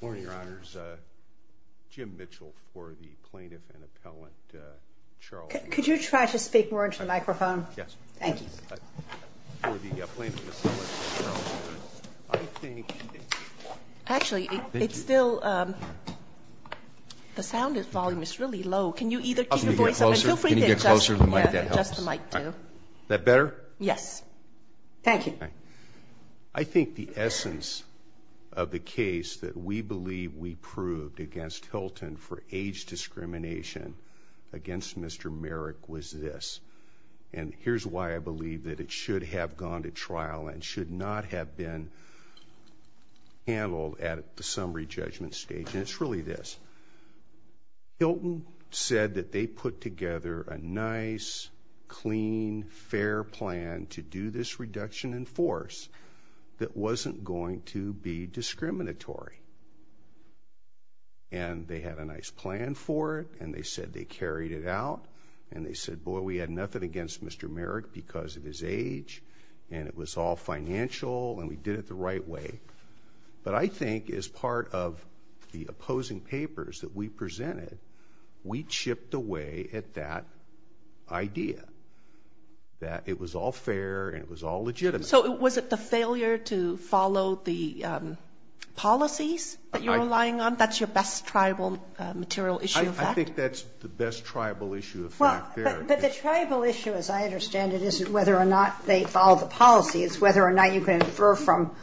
Good morning, Your Honors. Jim Mitchell for the Plaintiff and Appellant, Charles Merrick. Could you try to speak more into the microphone? Yes. Thank you. For the Plaintiff and Appellant, Charles Merrick. I think it's – Actually, it's still – Thank you. The sound volume is really low. Can you either keep your voice up? Can you get closer? And feel free to adjust – Yeah, adjust the mic, too. Is that better? Yes. Thank you. I think the essence of the case that we believe we proved against Hilton for age discrimination against Mr. Merrick was this. And here's why I believe that it should have gone to trial and should not have been handled at the summary judgment stage. And it's really this. Hilton said that they put together a nice, clean, fair plan to do this reduction in force that wasn't going to be discriminatory. And they had a nice plan for it, and they said they carried it out. And they said, boy, we had nothing against Mr. Merrick because of his age, and it was all financial, and we did it the right way. But I think as part of the opposing papers that we presented, we chipped away at that idea, that it was all fair and it was all legitimate. So was it the failure to follow the policies that you're relying on? That's your best tribal material issue of fact? I think that's the best tribal issue of fact there. But the tribal issue, as I understand it, isn't whether or not they follow the policy. It's whether or not you can infer from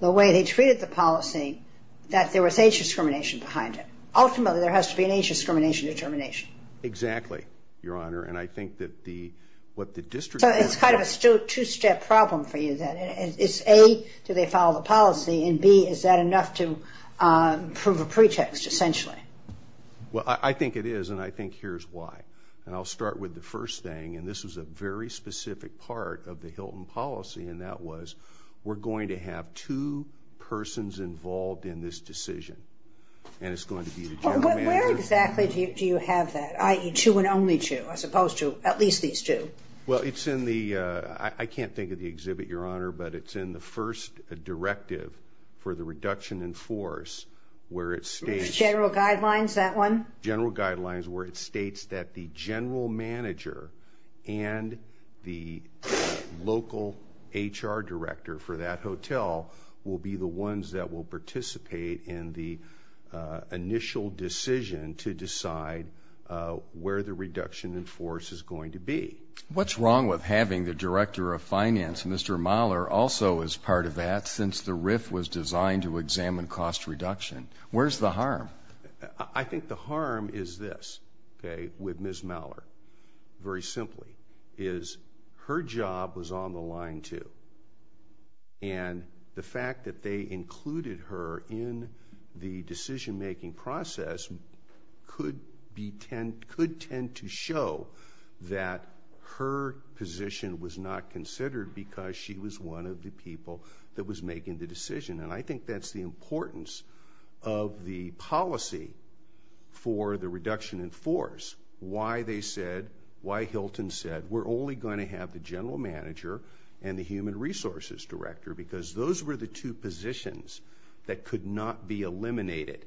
the way they treated the policy that there was age discrimination behind it. Ultimately, there has to be an age discrimination determination. Exactly, Your Honor. And I think that the – what the district – So it's kind of a two-step problem for you, then. It's, A, do they follow the policy, and, B, is that enough to prove a pretext, essentially? Well, I think it is, and I think here's why. And I'll start with the first thing, and this was a very specific part of the Hilton policy, and that was we're going to have two persons involved in this decision, and it's going to be the general manager. Where exactly do you have that, i.e., two and only two, as opposed to at least these two? Well, it's in the – I can't think of the exhibit, Your Honor, but it's in the first directive for the reduction in force where it states – General guidelines, that one? General guidelines where it states that the general manager and the local HR director for that hotel will be the ones that will participate in the initial decision to decide where the reduction in force is going to be. What's wrong with having the director of finance, Mr. Mahler, also as part of that, since the RIF was designed to examine cost reduction? Where's the harm? I think the harm is this, okay, with Ms. Mahler, very simply, is her job was on the line, too. And the fact that they included her in the decision-making process could be – could tend to show that her position was not considered because she was one of the people that was making the decision. And I think that's the importance of the policy for the reduction in force, why they said, why Hilton said, we're only going to have the general manager and the human resources director because those were the two positions that could not be eliminated.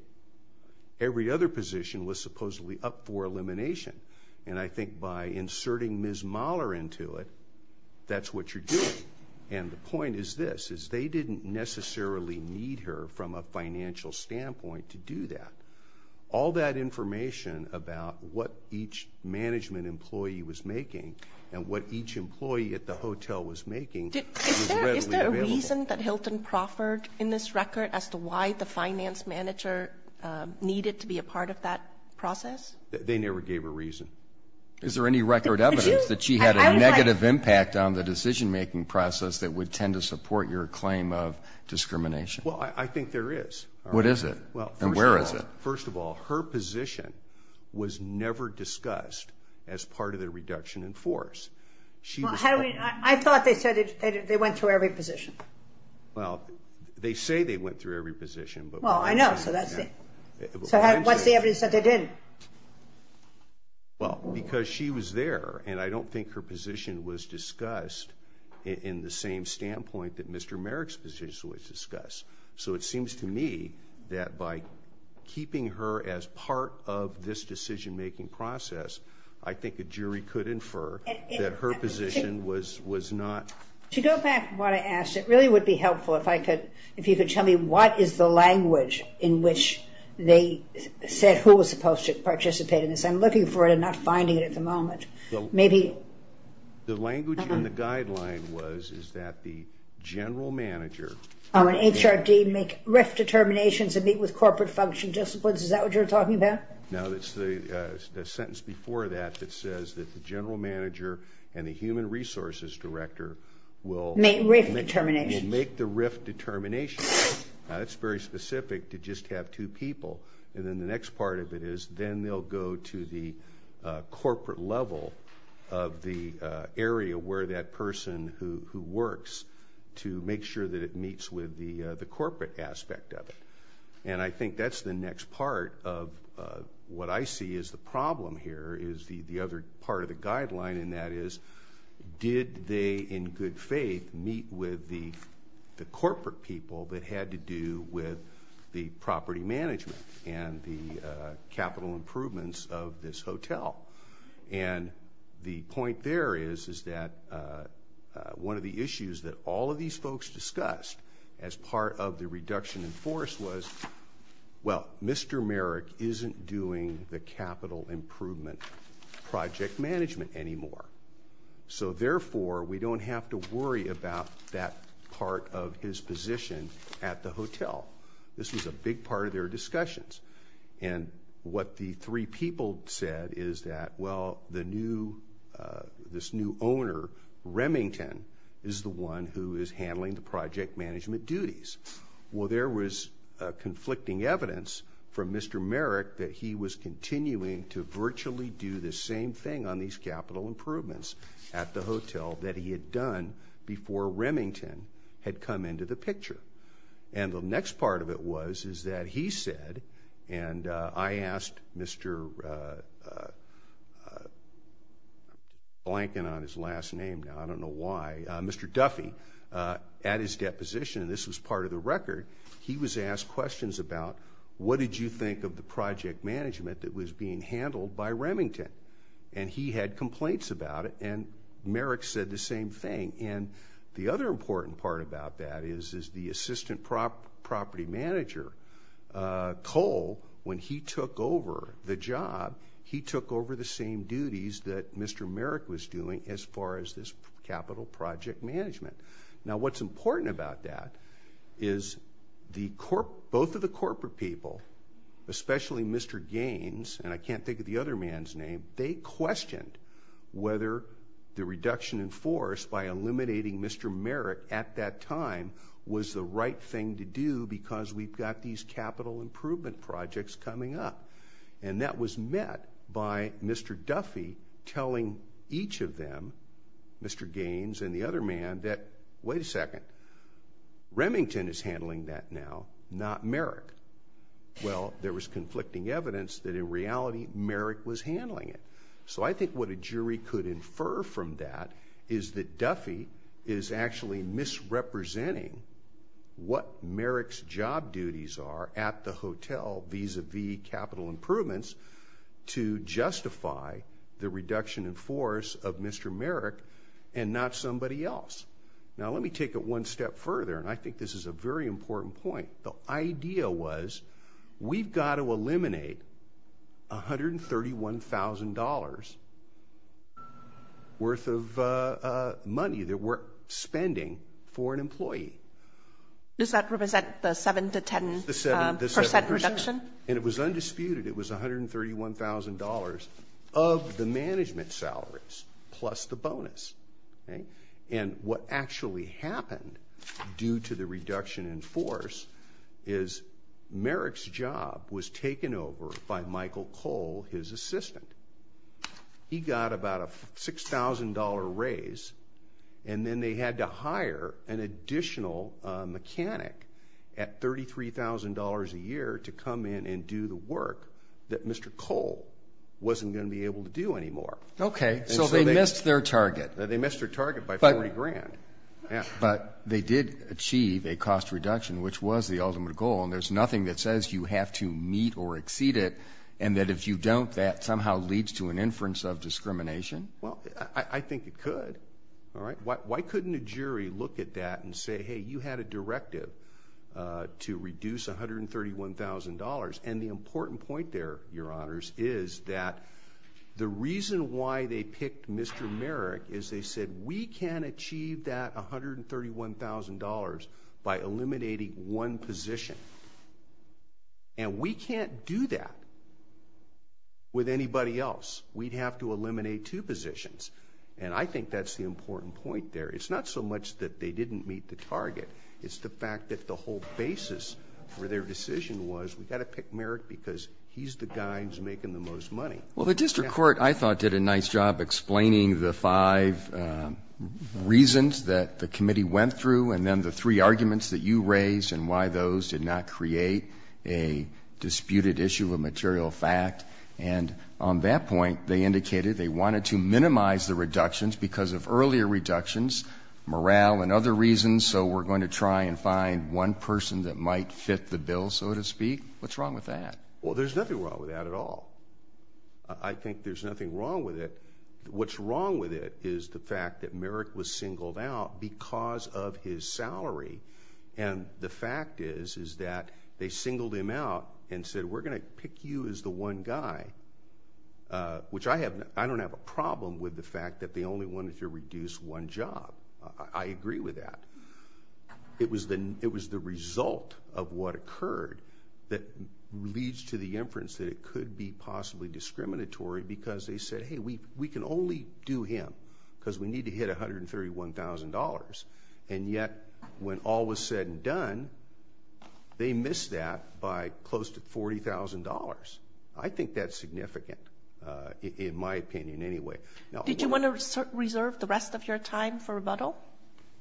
Every other position was supposedly up for elimination. And I think by inserting Ms. Mahler into it, that's what you're doing. And the point is this, is they didn't necessarily need her from a financial standpoint to do that. All that information about what each management employee was making and what each employee at the hotel was making was readily available. Is there a reason that Hilton proffered in this record as to why the finance manager needed to be a part of that process? They never gave a reason. Is there any record evidence that she had a negative impact on the decision-making process that would tend to support your claim of discrimination? Well, I think there is. What is it? And where is it? First of all, her position was never discussed as part of the reduction in force. I thought they said they went through every position. Well, they say they went through every position. Well, I know, so that's it. So what's the evidence that they didn't? Well, because she was there, and I don't think her position was discussed in the same standpoint that Mr. Merrick's position was discussed. So it seems to me that by keeping her as part of this decision-making process, I think a jury could infer that her position was not. To go back to what I asked, it really would be helpful if you could tell me what is the language in which they said who was supposed to participate in this. I'm looking for it and not finding it at the moment. The language in the guideline was that the general manager Oh, in HRD, make RIF determinations and meet with corporate function disciplines. Is that what you're talking about? No, it's the sentence before that that says that the general manager and the human resources director will Make RIF determinations. will make the RIF determinations. That's very specific to just have two people. And then the next part of it is then they'll go to the corporate level of the area where that person who works to make sure that it meets with the corporate aspect of it. And I think that's the next part of what I see is the problem here is the other part of the guideline, and that is did they in good faith meet with the corporate people that had to do with the property management and the capital improvements of this hotel. And the point there is that one of the issues that all of these folks discussed as part of the reduction in force was, Well, Mr. Merrick isn't doing the capital improvement project management anymore. So therefore, we don't have to worry about that part of his position at the hotel. This was a big part of their discussions. And what the three people said is that, well, the new this new owner, Remington, is the one who is handling the project management duties. Well, there was conflicting evidence from Mr. Merrick that he was continuing to virtually do the same thing on these capital improvements at the hotel that he had done before Remington had come into the picture. And the next part of it was is that he said, and I asked Mr. Blanken on his last name, now I don't know why, Mr. Duffy, at his deposition, and this was part of the record, he was asked questions about what did you think of the project management that was being handled by Remington? And he had complaints about it, and Merrick said the same thing. And the other important part about that is the assistant property manager, Cole, when he took over the job, he took over the same duties that Mr. Merrick was doing as far as this capital project management. Now, what's important about that is both of the corporate people, especially Mr. Gaines, and I can't think of the other man's name, they questioned whether the reduction in force by eliminating Mr. Merrick at that time was the right thing to do because we've got these capital improvement projects coming up. And that was met by Mr. Duffy telling each of them, Mr. Gaines and the other man, that wait a second, Remington is handling that now, not Merrick. Well, there was conflicting evidence that in reality Merrick was handling it. So I think what a jury could infer from that is that Duffy is actually misrepresenting what Merrick's job duties are at the hotel vis-a-vis capital improvements to justify the reduction in force of Mr. Merrick and not somebody else. Now, let me take it one step further, and I think this is a very important point. The idea was we've got to eliminate $131,000 worth of money that we're spending for an employee. Does that represent the 7% to 10% reduction? And it was undisputed. It was $131,000 of the management salaries plus the bonus. And what actually happened due to the reduction in force is Merrick's job was taken over by Michael Cole, his assistant. He got about a $6,000 raise, and then they had to hire an additional mechanic at $33,000 a year to come in and do the work that Mr. Cole wasn't going to be able to do anymore. Okay. So they missed their target. They missed their target by $40,000. But they did achieve a cost reduction, which was the ultimate goal, and there's nothing that says you have to meet or exceed it, and that if you don't that somehow leads to an inference of discrimination? Well, I think it could. Why couldn't a jury look at that and say, hey, you had a directive to reduce $131,000? And the important point there, Your Honors, is that the reason why they picked Mr. Merrick is they said, we can achieve that $131,000 by eliminating one position, and we can't do that with anybody else. We'd have to eliminate two positions, and I think that's the important point there. It's not so much that they didn't meet the target. It's the fact that the whole basis for their decision was we've got to pick Merrick because he's the guy who's making the most money. Well, the district court, I thought, did a nice job explaining the five reasons that the committee went through and then the three arguments that you raised and why those did not create a disputed issue of material fact. And on that point, they indicated they wanted to minimize the reductions because of earlier reductions, morale, and other reasons, so we're going to try and find one person that might fit the bill, so to speak. What's wrong with that? Well, there's nothing wrong with that at all. I think there's nothing wrong with it. What's wrong with it is the fact that Merrick was singled out because of his salary, and the fact is is that they singled him out and said, we're going to pick you as the one guy, which I don't have a problem with the fact that they only wanted to reduce one job. I agree with that. It was the result of what occurred that leads to the inference that it could be possibly discriminatory because they said, hey, we can only do him because we need to hit $131,000, and yet when all was said and done, they missed that by close to $40,000. I think that's significant, in my opinion anyway. Did you want to reserve the rest of your time for rebuttal?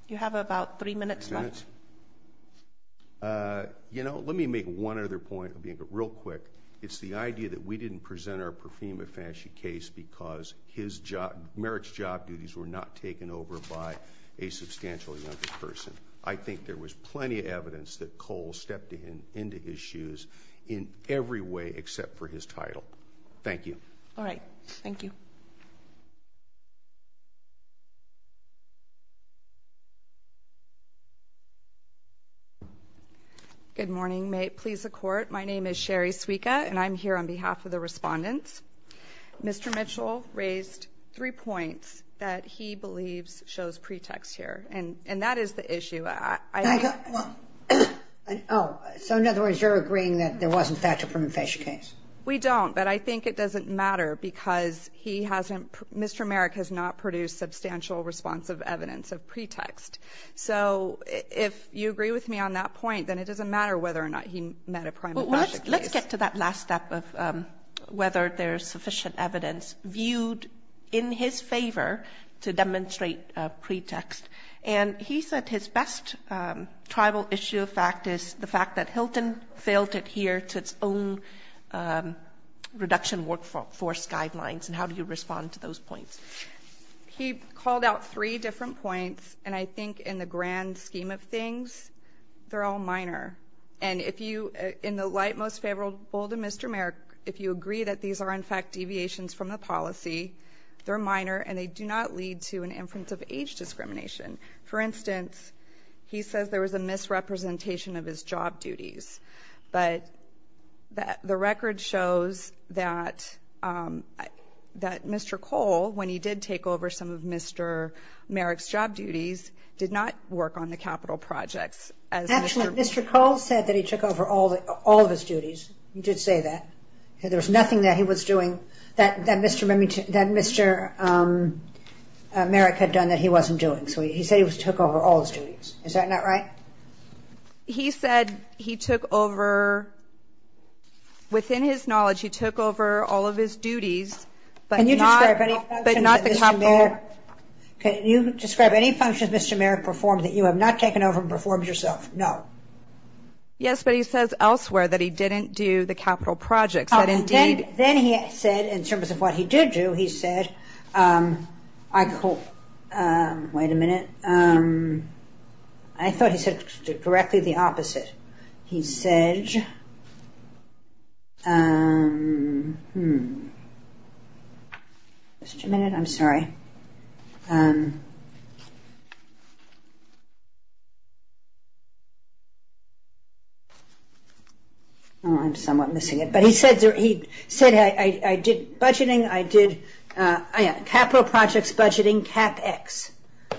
You have about three minutes left. You know, let me make one other point real quick. It's the idea that we didn't present our Profima-Fasci case because Merrick's job duties were not taken over by a substantially younger person. I think there was plenty of evidence that Cole stepped into his shoes in every way except for his title. Thank you. All right. Thank you. Good morning. May it please the Court, my name is Sherry Suica, and I'm here on behalf of the respondents. Mr. Mitchell raised three points that he believes shows pretext here. And that is the issue. So in other words, you're agreeing that there was, in fact, a Profima-Fasci case? We don't, but I think it doesn't matter because he hasn't Mr. Merrick has not produced substantial responsive evidence of pretext. So if you agree with me on that point, then it doesn't matter whether or not he met a Profima-Fasci case. Let's get to that last step of whether there's sufficient evidence viewed in his favor to demonstrate pretext. And he said his best tribal issue of fact is the fact that Hilton failed to adhere to its own reduction workforce guidelines. And how do you respond to those points? He called out three different points. And I think in the grand scheme of things, they're all minor. And if you, in the light most favorable to Mr. Merrick, if you agree that these are, in fact, deviations from the policy, they're minor and they do not lead to an inference of age discrimination. For instance, he says there was a misrepresentation of his job duties. But the record shows that Mr. Cole, when he did take over some of Mr. Merrick's job duties, did not work on the capital projects. Actually, Mr. Cole said that he took over all of his duties. He did say that. There was nothing that he was doing that Mr. Merrick had done that he wasn't doing. So he said he took over all his duties. Is that not right? He said he took over, within his knowledge, he took over all of his duties, but not the capital. Can you describe any functions Mr. Merrick performed that you have not taken over and performed yourself? No. Yes, but he says elsewhere that he didn't do the capital projects. Then he said, in terms of what he did do, he said, wait a minute, I thought he said directly the opposite. He said, wait a minute, I'm sorry, I'm somewhat missing it. But he said I did budgeting, I did capital projects budgeting, CapEx.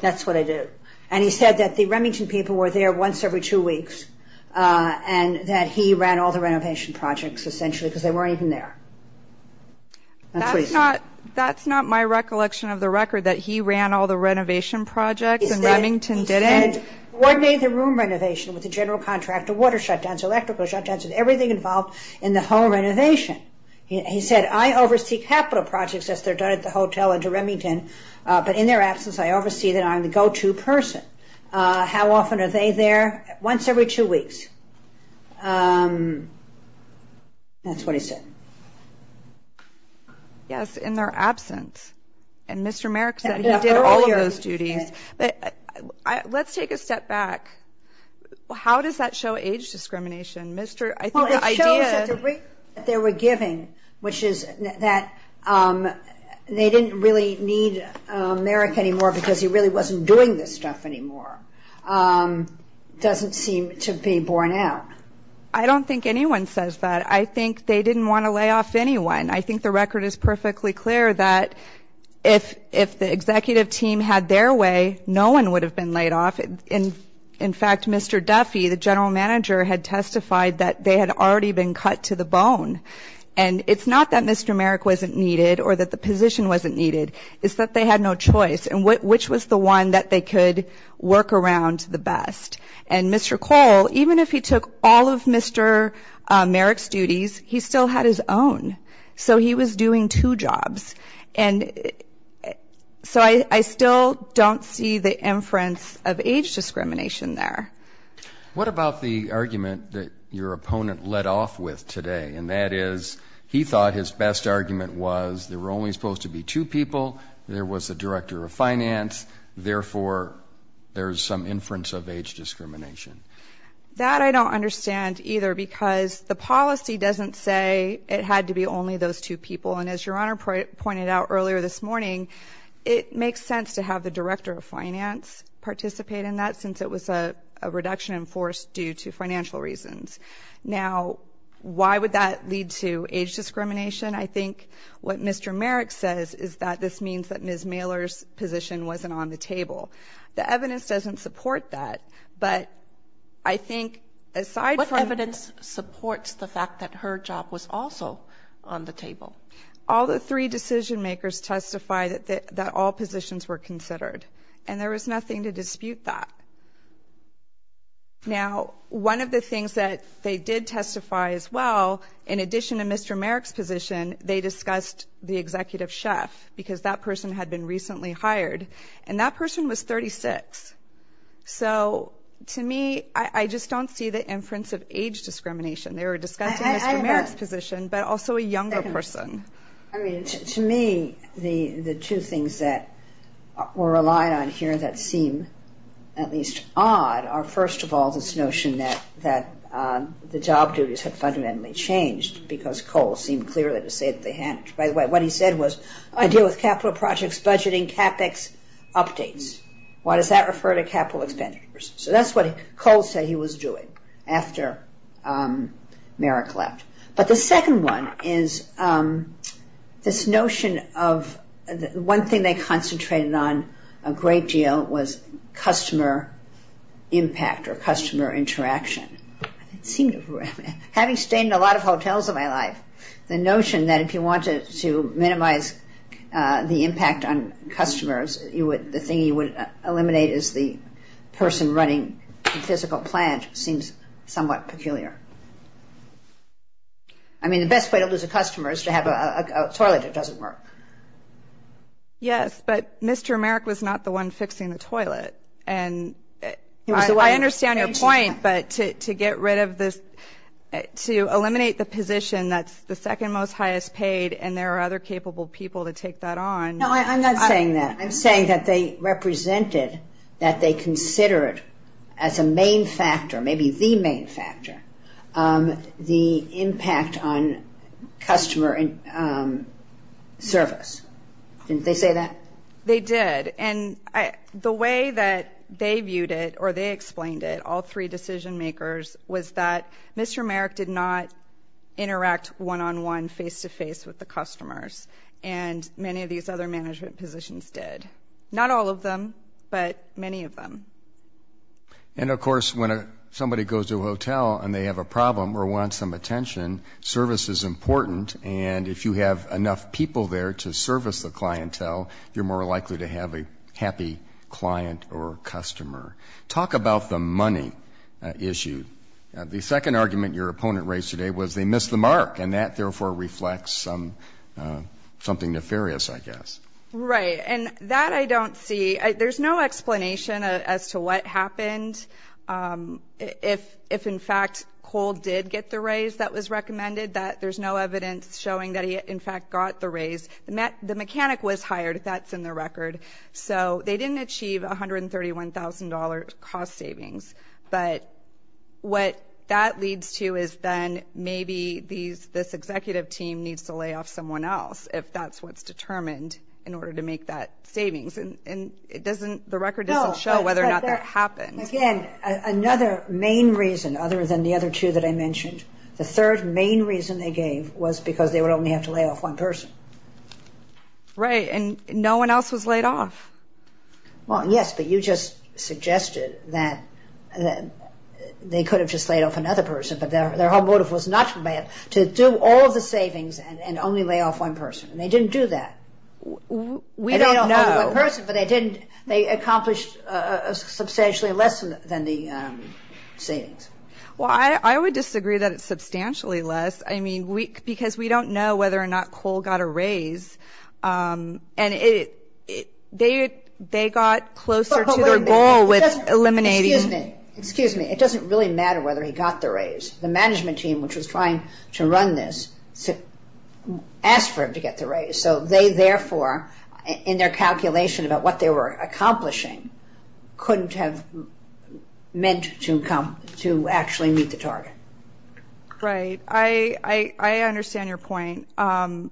That's what I did. And he said that the Remington people were there once every two weeks, and that he ran all the renovation projects, essentially, because they weren't even there. That's not my recollection of the record, that he ran all the renovation projects and Remington didn't. He said, coordinated the room renovation with the general contractor, water shutdowns, electrical shutdowns, and everything involved in the home renovation. He said, I oversee capital projects as they're done at the hotel and to Remington, but in their absence I oversee them, I'm the go-to person. How often are they there? Once every two weeks. That's what he said. Yes, in their absence. And Mr. Merrick said he did all of those duties. Let's take a step back. How does that show age discrimination? Well, it shows that the rate that they were giving, which is that they didn't really need Merrick anymore because he really wasn't doing this stuff anymore, doesn't seem to be borne out. I don't think anyone says that. I think they didn't want to lay off anyone. I think the record is perfectly clear that if the executive team had their way, no one would have been laid off. In fact, Mr. Duffy, the general manager, had testified that they had already been cut to the bone. And it's not that Mr. Merrick wasn't needed or that the position wasn't needed, it's that they had no choice in which was the one that they could work around the best. And Mr. Cole, even if he took all of Mr. Merrick's duties, he still had his own. So he was doing two jobs. And so I still don't see the inference of age discrimination there. What about the argument that your opponent led off with today, and that is he thought his best argument was there were only supposed to be two people, there was a director of finance, therefore there's some inference of age discrimination? That I don't understand either because the policy doesn't say it had to be only those two people. And as Your Honor pointed out earlier this morning, it makes sense to have the director of finance participate in that since it was a reduction in force due to financial reasons. Now, why would that lead to age discrimination? I think what Mr. Merrick says is that this means that Ms. Mailer's position wasn't on the table. The evidence doesn't support that. What evidence supports the fact that her job was also on the table? All the three decision-makers testified that all positions were considered, and there was nothing to dispute that. Now, one of the things that they did testify as well, in addition to Mr. Merrick's position, they discussed the executive chef because that person had been recently hired, and that person was 36. So, to me, I just don't see the inference of age discrimination. They were discussing Mr. Merrick's position, but also a younger person. I mean, to me, the two things that we're relying on here that seem at least odd are first of all this notion that the job duties have fundamentally changed because Cole seemed clear to say that they hadn't. By the way, what he said was, I deal with capital projects, budgeting, CAPEX updates. Why does that refer to capital expenditures? So that's what Cole said he was doing after Merrick left. But the second one is this notion of one thing they concentrated on a great deal was customer impact or customer interaction. It seemed, having stayed in a lot of hotels in my life, the notion that if you wanted to minimize the impact on customers, the thing you would eliminate is the person running the physical plant seems somewhat peculiar. I mean, the best way to lose a customer is to have a toilet that doesn't work. Yes, but Mr. Merrick was not the one fixing the toilet, and I understand your point, but to get rid of this, to eliminate the position that's the second most highest paid and there are other capable people to take that on. No, I'm not saying that. I'm saying that they represented, that they considered as a main factor, maybe the main factor, the impact on customer service. Didn't they say that? They did. And the way that they viewed it, or they explained it, all three decision makers, was that Mr. Merrick did not interact one-on-one, face-to-face with the customers, and many of these other management positions did. Not all of them, but many of them. And, of course, when somebody goes to a hotel and they have a problem or want some attention, service is important, and if you have enough people there to service the clientele, you're more likely to have a happy client or customer. Talk about the money issue. The second argument your opponent raised today was they missed the mark, and that, therefore, reflects something nefarious, I guess. Right. And that I don't see. There's no explanation as to what happened. If, in fact, Cole did get the raise that was recommended, there's no evidence showing that he, in fact, got the raise. The mechanic was hired. That's in the record. So they didn't achieve $131,000 cost savings. But what that leads to is then maybe this executive team needs to lay off someone else if that's what's determined in order to make that savings. And the record doesn't show whether or not that happened. Again, another main reason, other than the other two that I mentioned, the third main reason they gave was because they would only have to lay off one person. Right. And no one else was laid off. Well, yes, but you just suggested that they could have just laid off another person, but their whole motive was not to do all of the savings and only lay off one person. And they didn't do that. We don't know. But they accomplished substantially less than the savings. Well, I would disagree that it's substantially less, because we don't know whether or not Cole got a raise. And they got closer to their goal with eliminating. Excuse me. Excuse me. It doesn't really matter whether he got the raise. The management team, which was trying to run this, asked for him to get the raise. So they, therefore, in their calculation about what they were accomplishing, couldn't have meant to actually meet the target. Right. I understand your point. It's kind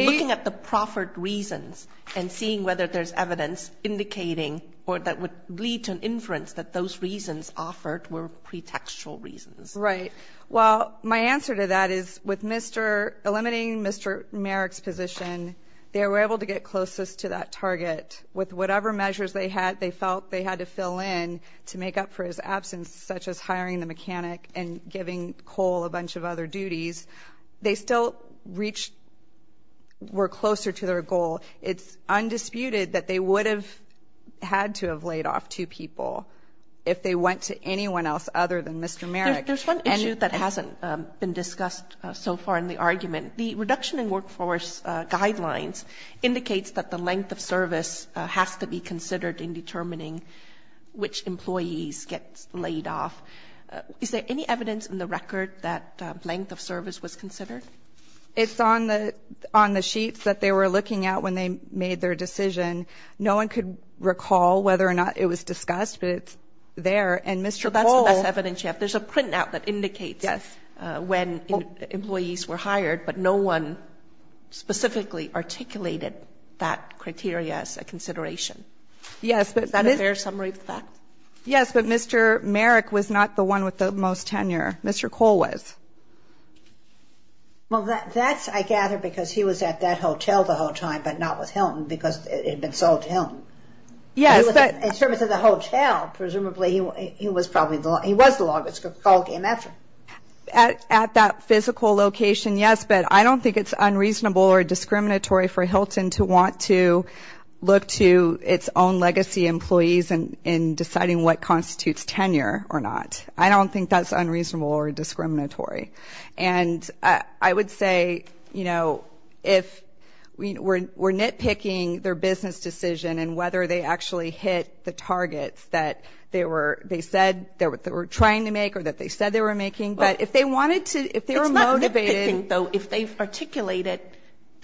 of looking at the proffered reasons and seeing whether there's evidence indicating or that would lead to an inference that those reasons offered were pretextual reasons. Right. Well, my answer to that is with Mr. ‑‑ eliminating Mr. Merrick's position, they were able to get closest to that target. With whatever measures they felt they had to fill in to make up for his absence, such as hiring the mechanic and giving Cole a bunch of other duties, they still reached ‑‑ were closer to their goal. It's undisputed that they would have had to have laid off two people if they went to anyone else other than Mr. Merrick. There's one issue that hasn't been discussed so far in the argument. The reduction in workforce guidelines indicates that the length of service has to be considered in determining which employees get laid off. Is there any evidence in the record that length of service was considered? It's on the sheets that they were looking at when they made their decision. No one could recall whether or not it was discussed, but it's there. So that's the best evidence you have. There's a printout that indicates when employees were hired, but no one specifically articulated that criteria as a consideration. Is that a fair summary of the facts? Yes, but Mr. Merrick was not the one with the most tenure. Mr. Cole was. Well, that's, I gather, because he was at that hotel the whole time but not with Hilton because it had been sold to Hilton. Yes, but ‑‑ In terms of the hotel, presumably he was the longest call game ever. At that physical location, yes, but I don't think it's unreasonable or discriminatory for Hilton to want to look to its own legacy employees in deciding what constitutes tenure or not. I don't think that's unreasonable or discriminatory. And I would say, you know, if we're nitpicking their business decision and whether they actually hit the targets that they said they were trying to make or that they said they were making, but if they wanted to, if they were motivated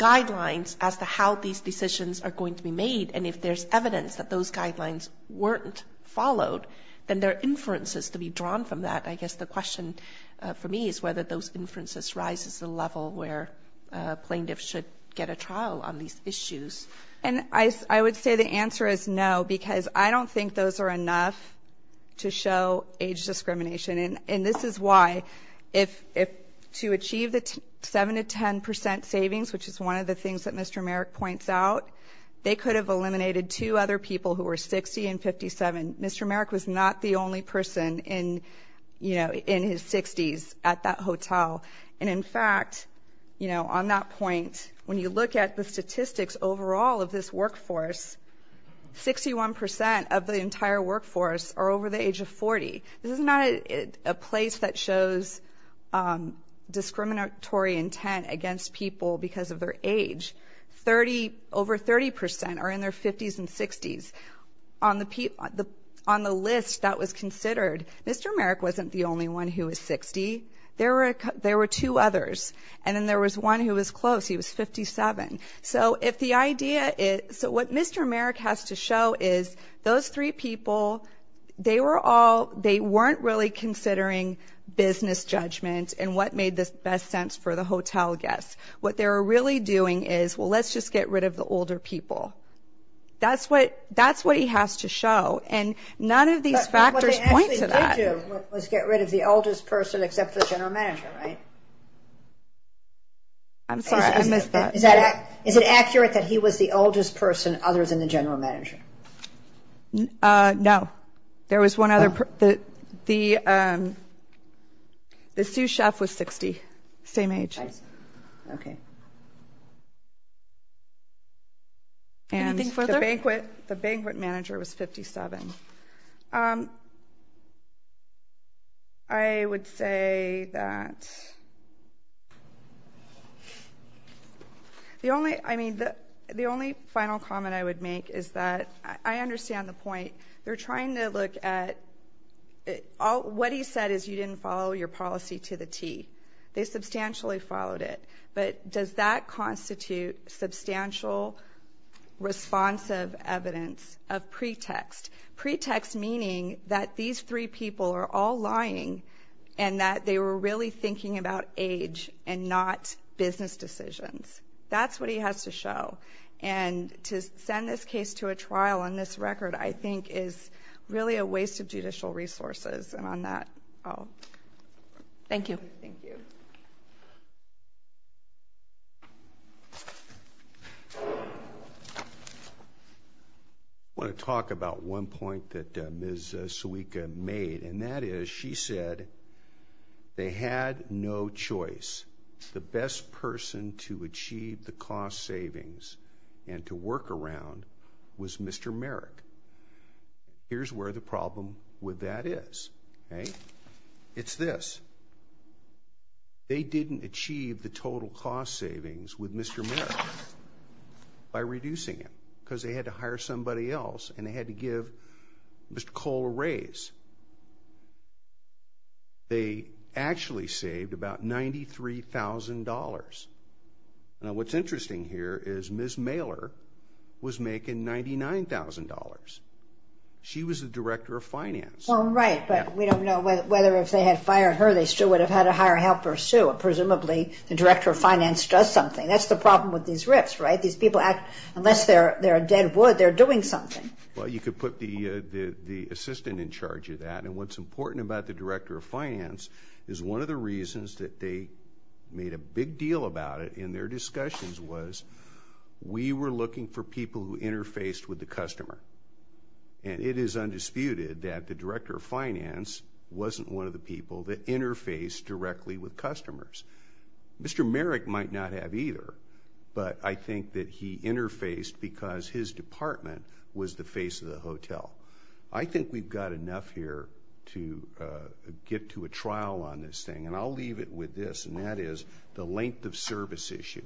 ‑‑ how these decisions are going to be made and if there's evidence that those guidelines weren't followed, then there are inferences to be drawn from that. I guess the question for me is whether those inferences rise to the level where plaintiffs should get a trial on these issues. And I would say the answer is no because I don't think those are enough to show age discrimination. And this is why, to achieve the 7% to 10% savings, which is one of the things that Mr. Merrick points out, they could have eliminated two other people who were 60 and 57. Mr. Merrick was not the only person in his 60s at that hotel. And, in fact, on that point, when you look at the statistics overall of this workforce, 61% of the entire workforce are over the age of 40. This is not a place that shows discriminatory intent against people because of their age. Over 30% are in their 50s and 60s. On the list that was considered, Mr. Merrick wasn't the only one who was 60. There were two others. And then there was one who was close. He was 57. So what Mr. Merrick has to show is those three people, they weren't really considering business judgment and what made the best sense for the hotel guests. What they were really doing is, well, let's just get rid of the older people. That's what he has to show. And none of these factors point to that. But what they actually did do was get rid of the oldest person except for the general manager, right? I'm sorry. I missed that. Is it accurate that he was the oldest person other than the general manager? No. There was one other person. The sous chef was 60, same age. I see. Okay. Anything further? And the banquet manager was 57. I would say that the only final comment I would make is that I understand the point. They're trying to look at what he said is you didn't follow your policy to the T. They substantially followed it. But does that constitute substantial responsive evidence of pretext? Pretext meaning that these three people are all lying and that they were really thinking about age and not business decisions. That's what he has to show. And to send this case to a trial on this record, I think, is really a waste of judicial resources. And on that, I'll stop. Thank you. Thank you. I want to talk about one point that Ms. Suica made, and that is she said they had no choice. The best person to achieve the cost savings and to work around was Mr. Merrick. Here's where the problem with that is. It's this. They didn't achieve the total cost savings with Mr. Merrick by reducing it because they had to hire somebody else and they had to give Mr. Cole a raise. They actually saved about $93,000. Now, what's interesting here is Ms. Mailer was making $99,000. She was the director of finance. Well, right, but we don't know whether if they had fired her, they still would have had to hire a helper, too. Presumably, the director of finance does something. That's the problem with these RIFs, right? These people act unless they're a dead wood, they're doing something. Well, you could put the assistant in charge of that, and what's important about the director of finance is one of the reasons that they made a big deal about it in their discussions was we were looking for people who interfaced with the customer, and it is undisputed that the director of finance wasn't one of the people that interfaced directly with customers. Mr. Merrick might not have either, but I think that he interfaced because his department was the face of the hotel. I think we've got enough here to get to a trial on this thing, and I'll leave it with this, and that is the length of service issue.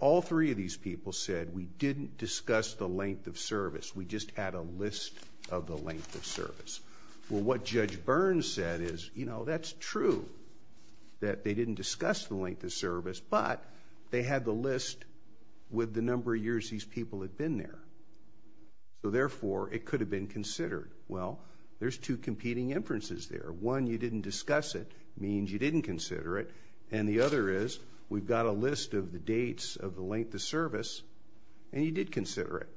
All three of these people said we didn't discuss the length of service, we just had a list of the length of service. Well, what Judge Burns said is, you know, that's true, that they didn't discuss the length of service, but they had the list with the number of years these people had been there, so therefore it could have been considered. Well, there's two competing inferences there. One, you didn't discuss it means you didn't consider it, and the other is we've got a list of the dates of the length of service, and you did consider it.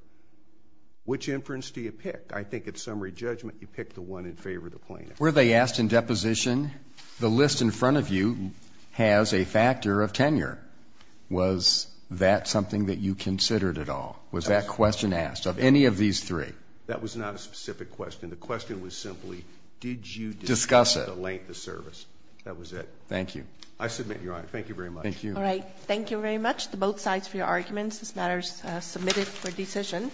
Which inference do you pick? I think at summary judgment you pick the one in favor of the plaintiff. Were they asked in deposition, the list in front of you has a factor of tenure. Was that something that you considered at all? Was that question asked of any of these three? That was not a specific question. The question was simply did you discuss the length of service? That was it. Thank you. I submit, Your Honor. Thank you very much. Thank you. All right. Thank you very much to both sides for your arguments. This matter is submitted for decision.